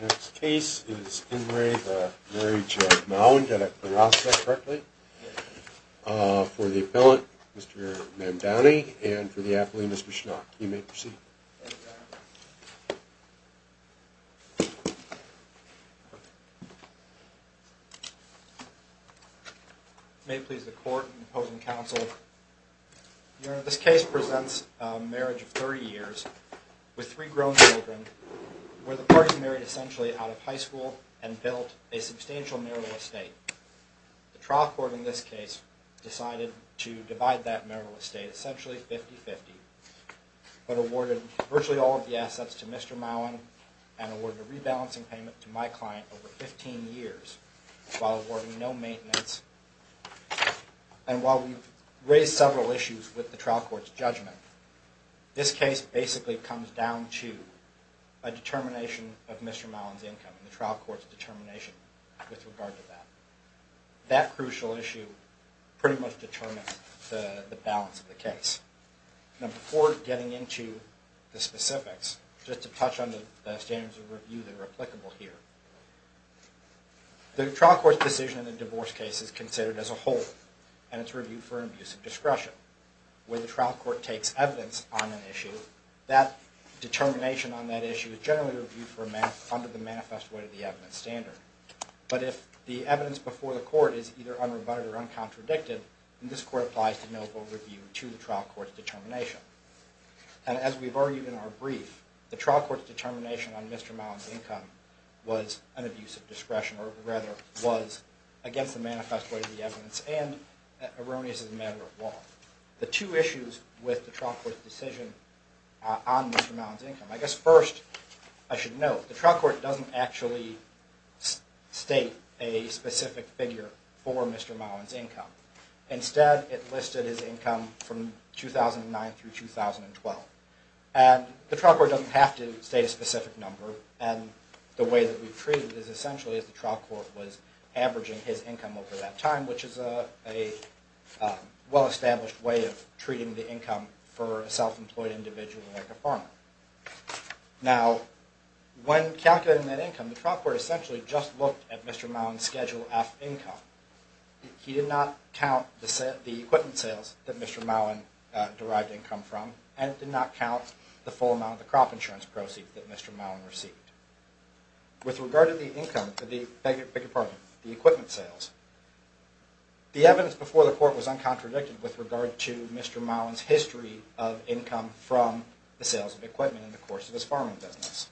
Next case is In re the marriage of Mowen, did I pronounce that correctly, for the appellant Mr. Ma'am Downey and for the athlete Mr. Schnock, you may proceed. May it please the court and opposing counsel. Your Honor, this case presents a marriage of 30 years with three grown children where the party married essentially out of high school and built a substantial marital estate. The trial court in this case decided to divide that marital estate essentially 50-50 but awarded virtually all of the assets to Mr. Mowen and awarded a rebalancing payment to my client over 15 years while awarding no maintenance. And while we've raised several issues with the trial court's judgment, this case basically comes down to a determination of Mr. Mowen's income and the trial court's determination with regard to that. That crucial issue pretty much determines the balance of the case. Now before getting into the specifics, just to touch on the standards of review that are applicable here. The trial court's decision in the divorce case is considered as a whole and it's reviewed for abuse of discretion. When the trial court takes evidence on an issue, that determination on that issue is generally under the manifest weight of the evidence standard. But if the evidence before the court is either unrebutted or uncontradicted, then this court applies to no overview to the trial court's determination. And as we've argued in our brief, the trial court's determination on Mr. Mowen's income was an abuse of discretion or rather was against the manifest weight of the evidence and erroneous as a matter of law. The two issues with the trial court's decision on Mr. Mowen's income, I guess first I should note, the trial court doesn't actually state a specific figure for Mr. Mowen's income. Instead, it listed his income from 2009 through 2012. And the trial court doesn't have to state a way of treating the income for a self-employed individual like a farmer. Now, when calculating that income, the trial court essentially just looked at Mr. Mowen's Schedule F income. He did not count the equipment sales that Mr. Mowen derived income from and did not count the full amount of the crop insurance proceeds that Mr. Mowen received. With regard to the equipment sales, the evidence before the court was uncontradicted with regard to Mr. Mowen's history of income from the sales of equipment in the course of his farming business.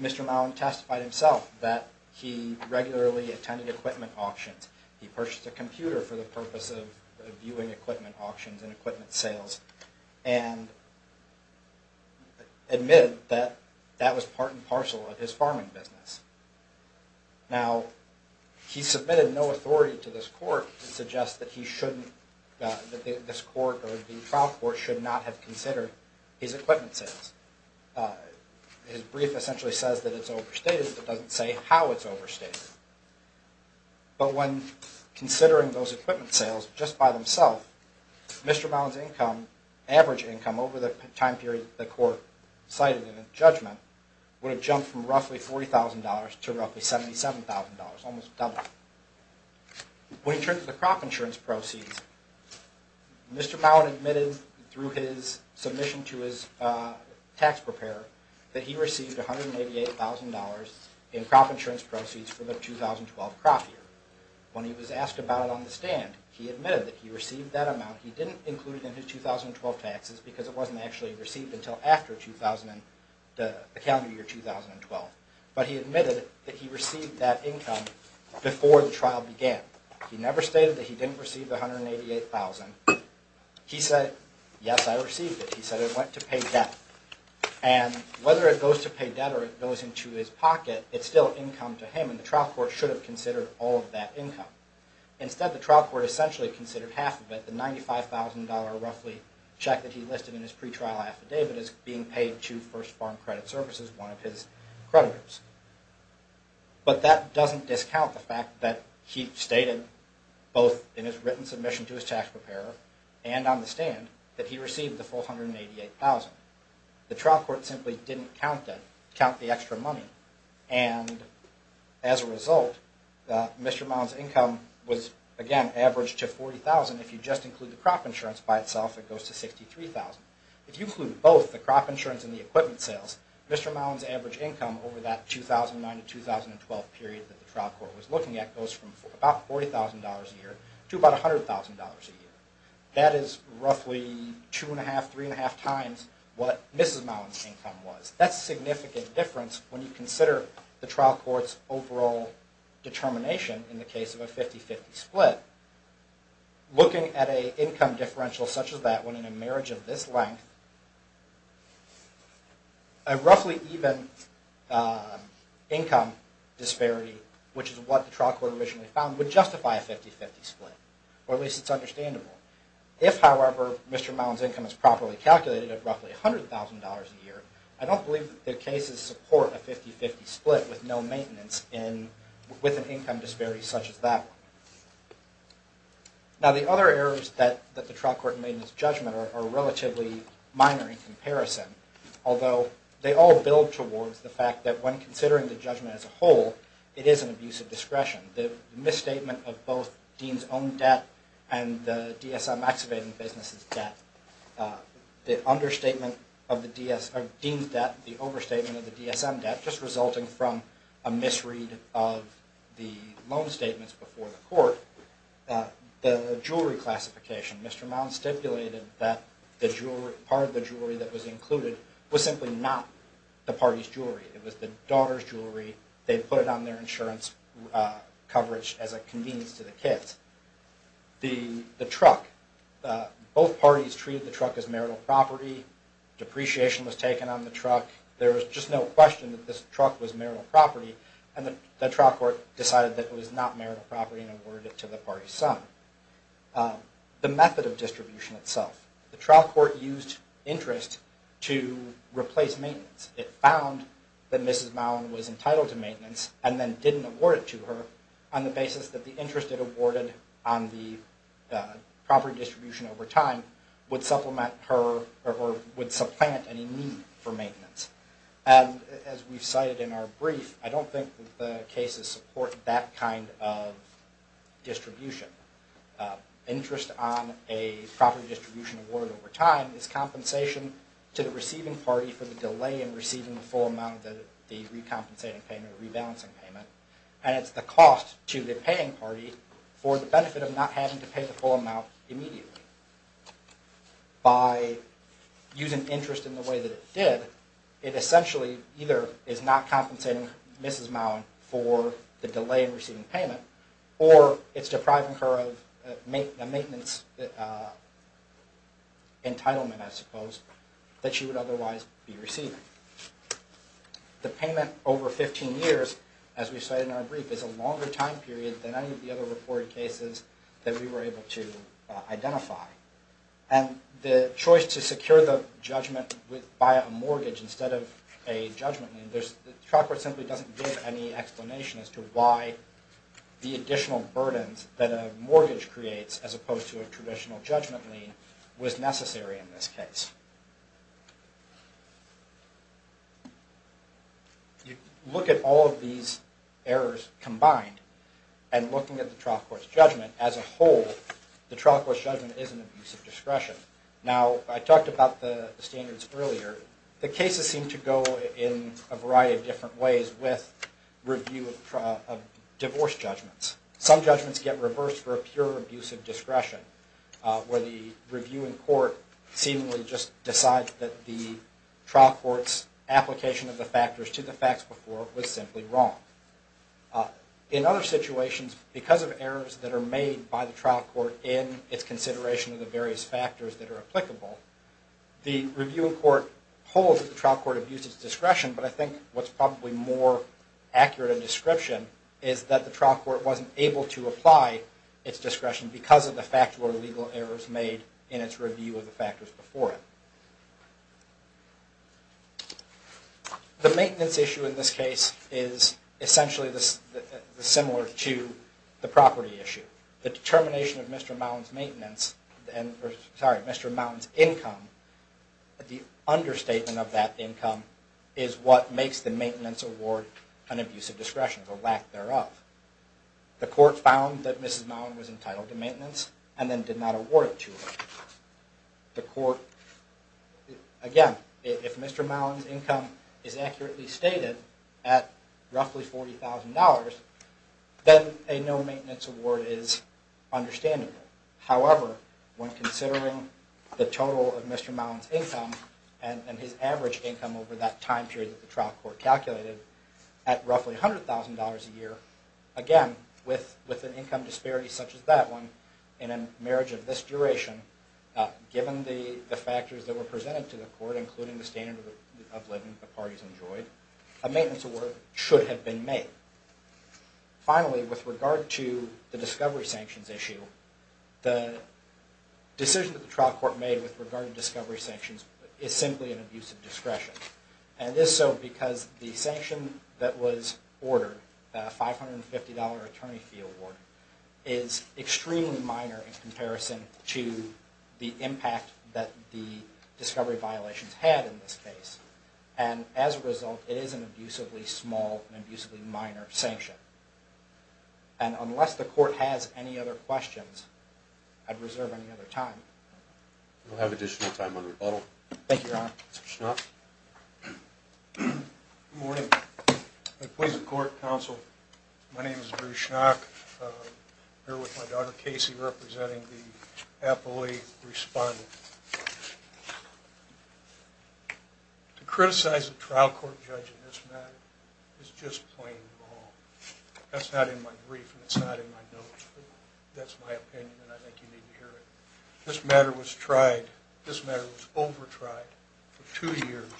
Mr. Mowen testified himself that he regularly attended equipment auctions. He purchased a computer for the purpose of viewing equipment auctions and admitted that that was part and parcel of his farming business. Now, he submitted no authority to this court to suggest that this court or the trial court should not have considered his equipment sales. His brief essentially says that it's overstated, but doesn't say how it's overstated. But when considering those equipment sales just by themselves, Mr. Mowen's average income over the time period the court cited in the judgment would have jumped from roughly $40,000 to roughly $77,000, almost double. When it comes to the crop insurance proceeds, Mr. Mowen admitted through his submission to his tax preparer that he received $188,000 in crop insurance proceeds for the 2012 crop year. When he was asked about it on the stand, he admitted that he received that amount. He didn't include it in his 2012 taxes because it wasn't actually received until after the calendar year 2012. But he admitted that he received that income before the trial began. He never stated that he didn't receive the $188,000. He said, yes, I received it. He said it went to pay debt. And whether it goes to pay debt or it goes into his pocket, it's still income to him and the trial court should have considered all of that income. Instead, the trial court essentially considered half of it, the $95,000 roughly check that he listed in his pretrial affidavit as being paid to First Farm Credit Services, one of his creditors. But that doesn't to his tax preparer and on the stand that he received the full $188,000. The trial court simply didn't count that, count the extra money. And as a result, Mr. Mowen's income was again averaged to $40,000 if you just include the crop insurance by itself, it goes to $63,000. If you include both the crop insurance and the equipment sales, Mr. Mowen's average income over that 2009 to 2012 period that the trial court was looking at goes from about $40,000 a year to about $100,000 a year. That is roughly two and a half, three and a half times what Mrs. Mowen's income was. That's a significant difference when you consider the trial court's overall determination in the case of a 50-50 split. Looking at an income distribution we found would justify a 50-50 split, or at least it's understandable. If, however, Mr. Mowen's income is properly calculated at roughly $100,000 a year, I don't believe that the cases support a 50-50 split with no maintenance and with an income disparity such as that one. Now the other errors that the trial court made in its judgment are relatively minor in comparison, although they all build towards the fact that when considering the judgment as a whole, it is an abuse of discretion. The misstatement of both Dean's own debt and the DSM activating business' debt, the understatement of Dean's debt, the overstatement of the DSM debt just resulting from a misread of the loan statements before the court, the jewelry classification. Mr. Mowen stipulated that part of the jewelry that was included was simply not the party's daughter's jewelry. They put it on their insurance coverage as a convenience to the kids. The truck. Both parties treated the truck as marital property. Depreciation was taken on the truck. There was just no question that this truck was marital property, and the trial court decided that it was not marital property and awarded it to the party's son. The method of distribution itself. The trial court used interest to replace maintenance. It found that Mrs. Mowen was entitled to maintenance and then didn't award it to her on the basis that the interest it awarded on the property distribution over time would supplement her or would supplant any need for maintenance. And as we've cited in our brief, I don't think that the cases support that kind of distribution. Interest on a property distribution award over time is compensation to the receiving party for the delay in receiving the full amount of the recompensating payment or rebalancing payment, and it's the cost to the paying party for the benefit of not having to pay the full amount immediately. By using interest in the way that it did, it essentially either is not compensating Mrs. Mowen for the delay in receiving payment, or it's depriving her of a maintenance entitlement, I suppose, that she would otherwise be receiving. The payment over 15 years, as we've cited in our brief, is a longer time period than any of the other reported cases that we were able to identify. And the trial court simply doesn't give any explanation as to why the additional burdens that a mortgage creates as opposed to a traditional judgment lien was necessary in this case. You look at all of these errors combined and looking at the trial court's judgment as a whole, the trial court's judgment is an with review of divorce judgments. Some judgments get reversed for a pure abuse of discretion, where the review in court seemingly just decides that the trial court's application of the factors to the facts before was simply wrong. In other situations, because of errors that are made by the trial court in its consideration of the various factors that are applicable, the review in court holds that the trial court abused its discretion, but I think what's probably more accurate a description is that the trial court wasn't able to apply its discretion because of the factual or legal errors made in its review of the factors before it. The maintenance issue in this case is essentially similar to the property issue. The determination of Mr. Mowen's income, the understatement of that income is what makes the maintenance award an abuse of discretion, the lack thereof. The court found that Mrs. Mowen was entitled to maintenance and then did not award it to her. Again, if Mr. Mowen's income is accurately stated at roughly $40,000, then a no however, when considering the total of Mr. Mowen's income and his average income over that time period that the trial court calculated at roughly $100,000 a year, again, with an income disparity such as that one in a marriage of this duration, given the factors that were presented to the court, including the standard of living the parties enjoyed, a maintenance award should have been made. Finally, with regard to the discovery sanctions issue, the decision that the trial court made with regard to discovery sanctions is simply an abuse of discretion. And it is so because the sanction that was ordered, the $550 attorney fee award, is extremely minor in comparison to the impact that the discovery I'd reserve any other time. We'll have additional time on rebuttal. Thank you, Your Honor. Mr. Schnock. Good morning. My name is Bruce Schnock. I'm here with my daughter, Casey, representing the appellate respondent. To criticize a trial court judge in my opinion, and I think you need to hear it, this matter was tried, this matter was over-tried for two years.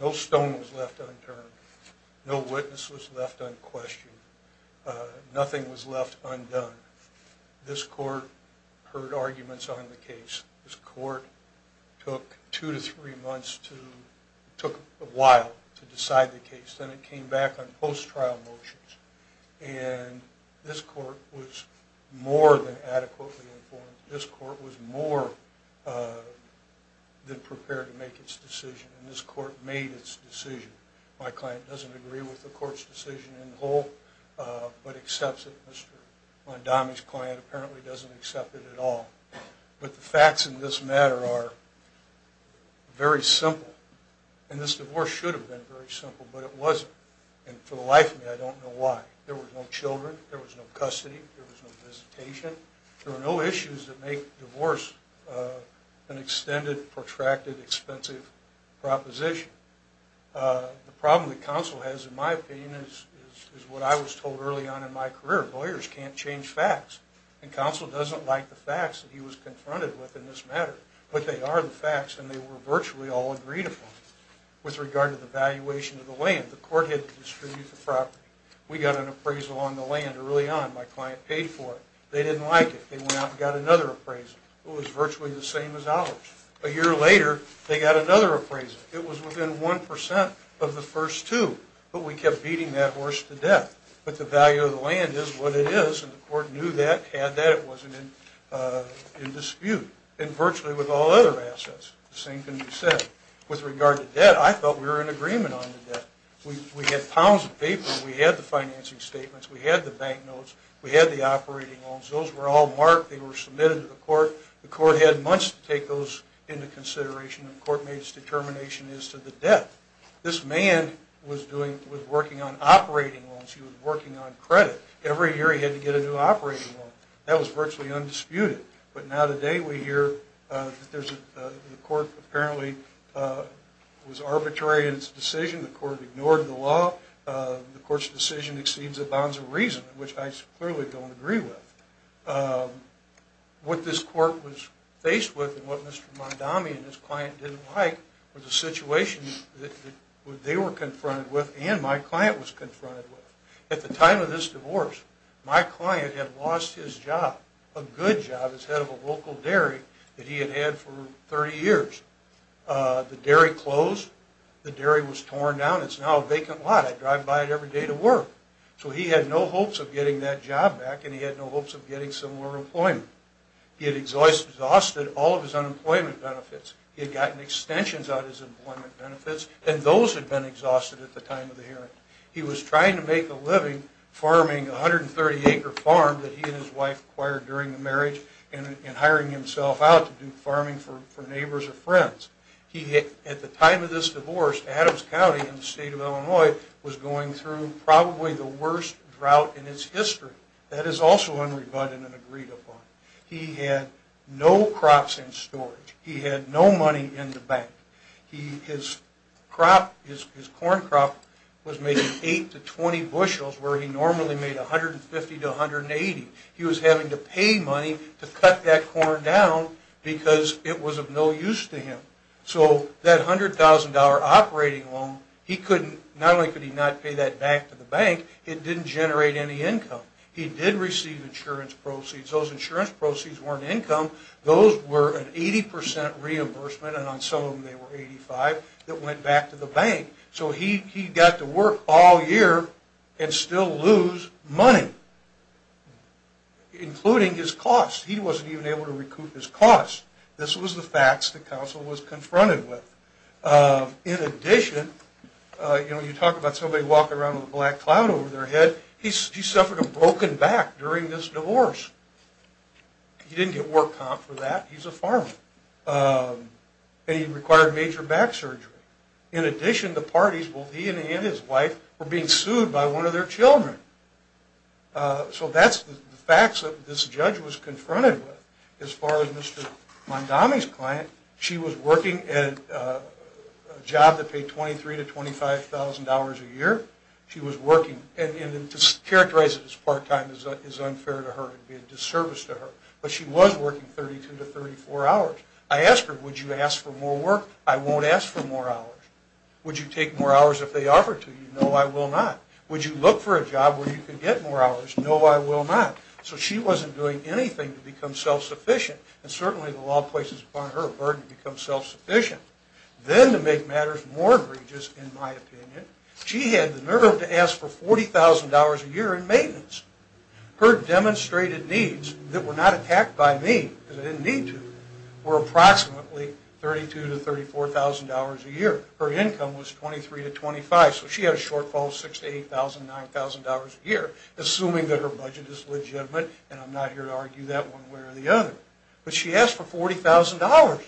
No stone was left unturned. No witness was left unquestioned. Nothing was left undone. This court heard arguments on the case. This court took two to three months to, took a while to decide the case. This court was more than adequately informed. This court was more than prepared to make its decision. And this court made its decision. My client doesn't agree with the court's decision in the whole, but accepts it. Mr. Mondami's client apparently doesn't accept it at all. But the facts in this matter are very simple. And this divorce should have been very simple, but it wasn't. And for the life of me, I don't know why. There were no children. There was no custody. There was no visitation. There were no issues that make divorce an extended, protracted, expensive proposition. The problem that counsel has in my opinion is what I was told early on in my career. Lawyers can't change facts. And counsel doesn't like the facts that he was confronted with in this matter. But they are the facts and they were virtually all agreed upon. With regard to the valuation of the land, the court had to distribute the property. We got an appraisal on the land early on. My client paid for it. They didn't like it. They went out and got another appraisal. It was virtually the same as ours. A year later, they got another appraisal. It was within one percent of the first two. But we kept beating that horse to death. But the value of the with all other assets, the same can be said. With regard to debt, I thought we were in agreement on the debt. We had pounds of paper. We had the financing statements. We had the bank notes. We had the operating loans. Those were all marked. They were submitted to the court. The court had months to take those into consideration. The court made its determination as to the debt. This man was working on operating loans. He was working on credit. Every year he had to get a new The court apparently was arbitrary in its decision. The court ignored the law. The court's decision exceeds the bounds of reason, which I clearly don't agree with. What this court was faced with and what Mr. Mondami and his client didn't like was a situation that they were confronted with and my client was confronted with. At the time of this divorce, my client had lost his job, a good job as head of a local dairy that he had had for 30 years. The dairy closed. The dairy was torn down. It's now a vacant lot. I drive by it every day to work. So he had no hopes of getting that job back and he had no hopes of getting similar employment. He had exhausted all of his unemployment benefits. He had gotten extensions out of his employment benefits and those had been exhausted at the time of the hearing. He was trying to make a living farming a 130 acre farm that he and his wife acquired during the marriage and hiring himself out to do farming for neighbors or friends. At the time of this divorce, Adams County in the state of Illinois was going through probably the worst drought in its history. That is also unrebutted and agreed upon. He had no crops in storage. He had no money in the bank. His crop, his corn crop was making 8 to 20 bushels where he normally made 150 to 180. He was having to pay money to cut that corn down because it was of no use to him. So that $100,000 operating loan, not only could he not pay that back to the bank, it didn't generate any income. He did receive insurance proceeds. Those insurance proceeds weren't income. Those were an 80% reimbursement and on some of them they were 85 that went back to the bank. So he got to work all year and still lose money, including his costs. He wasn't even able to recoup his costs. This was the facts the council was confronted with. In addition, you talk about somebody walking around with a black cloud over their head. He suffered a broken back during this divorce. He didn't get work comp for that. He's a farmer. He required major back surgery. In addition, the parties, he and his wife, were being sued by one of their children. So that's the facts that this judge was confronted with. As far as Mr. Mondami's client, she was working at a job that paid $23,000 to $25,000 a year. She was working, and to characterize it as part-time is unfair to her. It would be a disservice to her. But she was working 32 to 34 hours. I asked her, would you ask for more work? I won't ask for more hours. Would you take more hours if they offered to you? No, I will not. Would you look for a job where you could get more hours? No, I will not. So she wasn't doing anything to become self-sufficient, and certainly the law places upon her a burden to become self-sufficient. Then to make matters more egregious, in my opinion, she had the nerve to ask for $40,000 a year in maintenance. Her demonstrated needs that were not attacked by me, because I didn't need to, were approximately $32,000 to $34,000 a year. Her income was $23,000 to $25,000, so she had a shortfall of $6,000 to $8,000 to $9,000 a year, assuming that her budget is legitimate, and I'm not here to argue that one way or the other. But she asked for $40,000.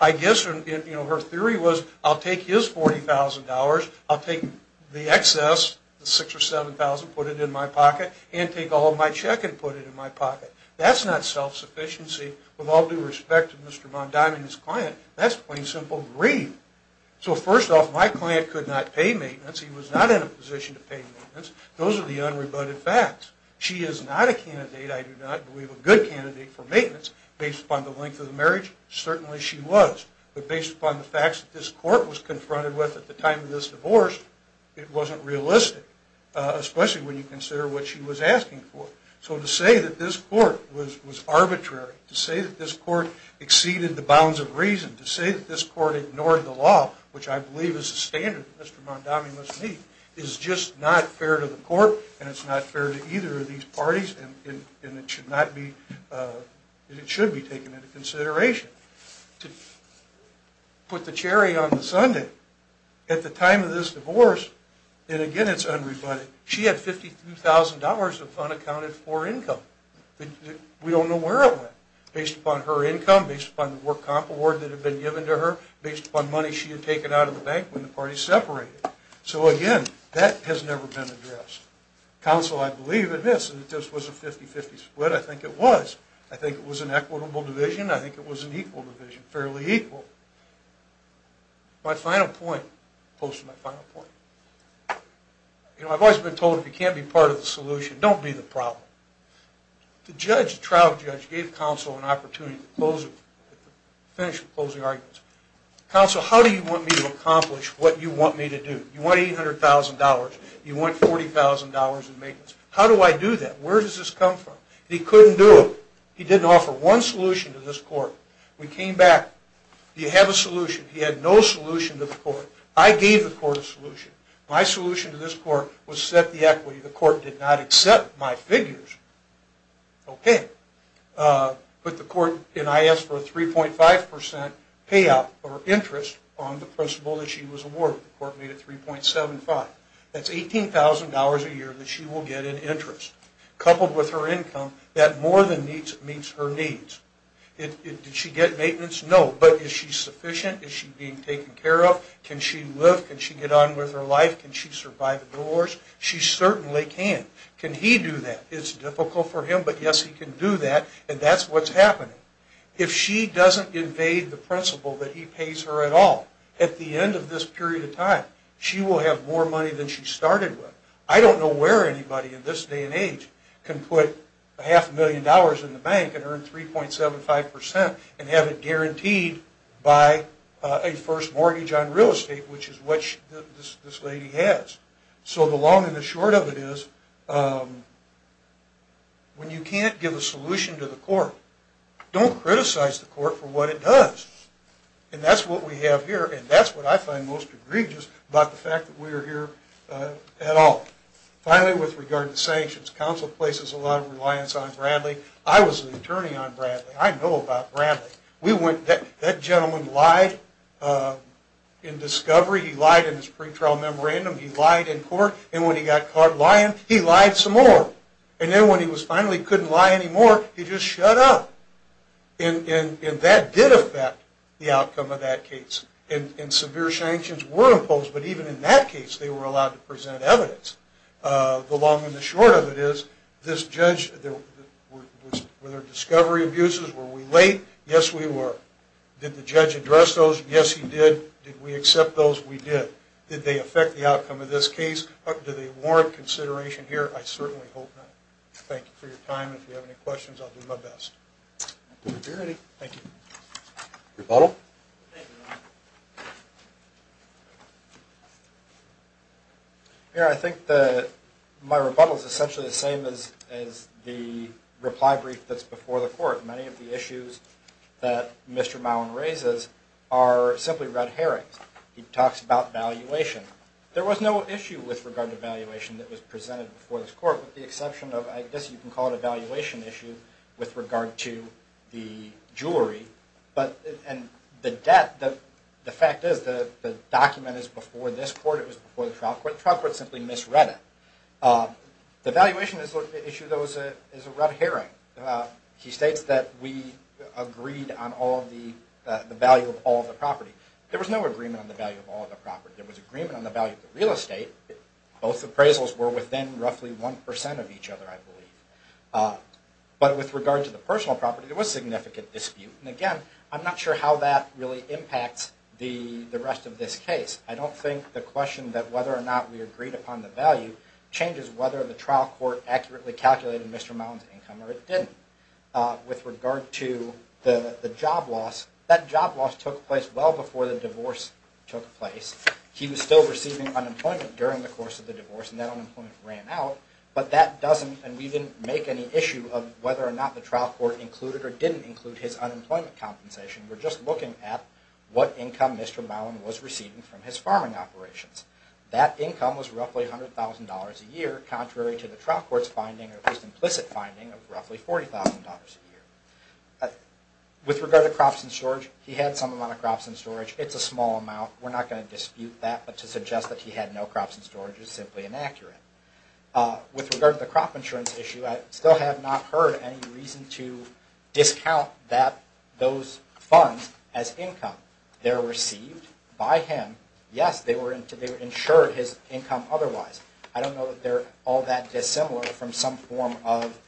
I guess her theory was, I'll take his $40,000, I'll take the excess, the $6,000 or $7,000, put it in my pocket, and take all of my check and put it in my pocket. That's not self-sufficiency with all due respect to Mr. Mondime and his client. That's plain simple greed. So first off, my client could not pay maintenance. He was not in a position to pay maintenance. Those are the unrebutted facts. She is not a candidate, I do not believe, a good candidate for maintenance, based upon the length of the marriage. Certainly she was. But based upon the facts that this court was confronted with at the time of this divorce, it wasn't realistic, especially when you consider what she was asking for. So to say that this court was arbitrary, to say that this court exceeded the bounds of reason, to say that this court ignored the law, which I believe is the standard that Mr. Mondime must meet, is just not fair to the court, and it's not fair to either of these parties, and it should be taken into consideration. To put the cherry on the sundae, at the time of this divorce, and again it's unrebutted, she had $52,000 of unaccounted for income. We don't know where it went. Based upon her income, based upon the work comp award that had been given to her, based upon money she had taken out of the bank when the parties separated. So again, that has never been addressed. Counsel, I believe, admits that this was a 50-50 split, I think it was. I think it was an equitable division, I think it was an equal division, fairly equal. My final point, I've always been told if you can't be part of the solution, don't be the problem. The trial judge gave counsel an opportunity to finish the closing arguments. Counsel, how do you want me to accomplish what you want me to do? You want $800,000, you want $40,000 in maintenance. How do I do that? Where does this come from? He couldn't do it. He didn't offer one solution to this court. We came back, do you have a solution? He had no solution to the court. I gave the court a solution. My solution to this court was set the equity. The court did not accept my figures. Okay. But the court, and I asked for a 3.5% payout or interest on the principal that she was awarded. The court made it 3.75. That's $18,000 a year that she will get in interest. Coupled with her income, that more than meets her needs. Did she get maintenance? No. But is she sufficient? Is she being taken care of? Can she live? Can she get on with her life? Can she survive the wars? She certainly can. Can he do that? It's difficult for him, but yes, he can do that, and that's what's happening. If she doesn't invade the principal that he pays her at all, at the end of this period of time, she will have more money than she started with. I don't know where anybody in this day and age can put half a million dollars in the bank and earn 3.75% and have it guaranteed by a first mortgage on real estate, which is what this lady has. So the long and the short of it is, when you can't give a solution to the court, don't criticize the court for what it does. And that's what we have here, and that's what I find most egregious about the fact that we are here at all. Finally, with regard to sanctions, counsel places a lot of reliance on Bradley. I was an attorney on Bradley. I know about Bradley. That gentleman lied in discovery, he lied in his pretrial memorandum, he lied in court, and when he got caught lying, he lied some more. And then when he finally couldn't lie anymore, he just shut up. And that did affect the outcome of that case. And severe sanctions were imposed, but even in that case, they were allowed to present evidence. The long and the short of it is, were there discovery abuses? Were we late? Yes, we were. Did the judge address those? Yes, he did. Did we accept those? We did. Did they affect the outcome of this case? Do they warrant consideration here? I certainly hope not. Thank you for your time, and if you have any questions, I'll do my best. Thank you. Rebuttal? Thank you, Ron. The fact is, the document is before this court, it was before the trial court. The trial court simply misread it. The valuation issue is a red herring. He states that we agreed on the value of all the property. There was no agreement on the value of all the property. There was agreement on the value of the real estate. Both appraisals were within roughly 1% of each other, I believe. But with regard to the personal property, there was significant dispute. And again, I'm not sure how that really impacts the rest of this case. I don't think the question that whether or not we agreed upon the value changes whether the trial court accurately calculated Mr. Mound's income or it didn't. With regard to the job loss, that job loss took place well before the divorce took place. He was still receiving unemployment during the course of the divorce, and that unemployment ran out. But that doesn't, and we didn't make any issue of whether or not the trial court included or didn't include his unemployment compensation. We're just looking at what income Mr. Mound was receiving from his farming operations. That income was roughly $100,000 a year, contrary to the trial court's finding, or at least implicit finding, of roughly $40,000 a year. With regard to crops and storage, he had some amount of crops and storage. It's a small amount. We're not going to dispute that, but to suggest that he had no crops and storage is simply inaccurate. With regard to the crop insurance issue, I still have not heard any reason to discount those funds as income. They're received by him. Yes, they were insured his income otherwise. I don't know that they're all that dissimilar from some form of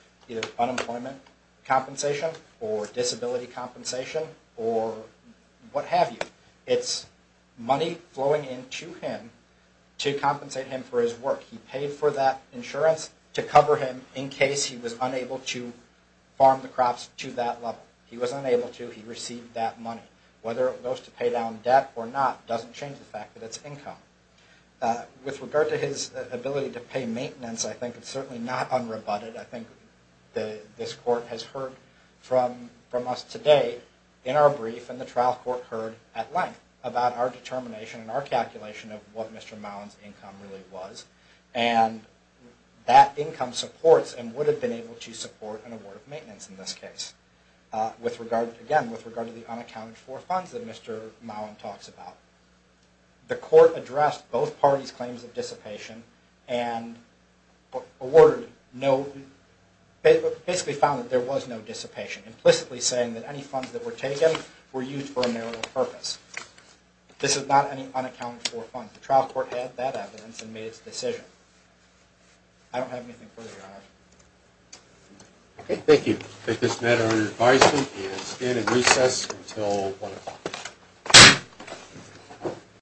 unemployment compensation or disability compensation or what have you. It's money flowing into him to compensate him for his work. He paid for that insurance to cover him in case he was unable to farm the crops to that level. He was unable to. He received that money. Whether it goes to pay down debt or not doesn't change the fact that it's income. With regard to his ability to pay maintenance, I think it's certainly not unrebutted. I think this court has heard from us today in our brief and the trial court heard at length about our determination and our calculation of what Mr. Mound's income really was. That income supports and would have been able to support an award of maintenance in this case. Again, with regard to the unaccounted for funds that Mr. Mound talks about, the court addressed both parties' claims of dissipation and basically found that there was no dissipation, implicitly saying that any funds that were taken were used for a narrow purpose. This is not any unaccounted for funds. The trial court had that evidence and made its decision. I don't have anything further to add. Okay, thank you. I take this matter under advisement and stand in recess until 1 o'clock.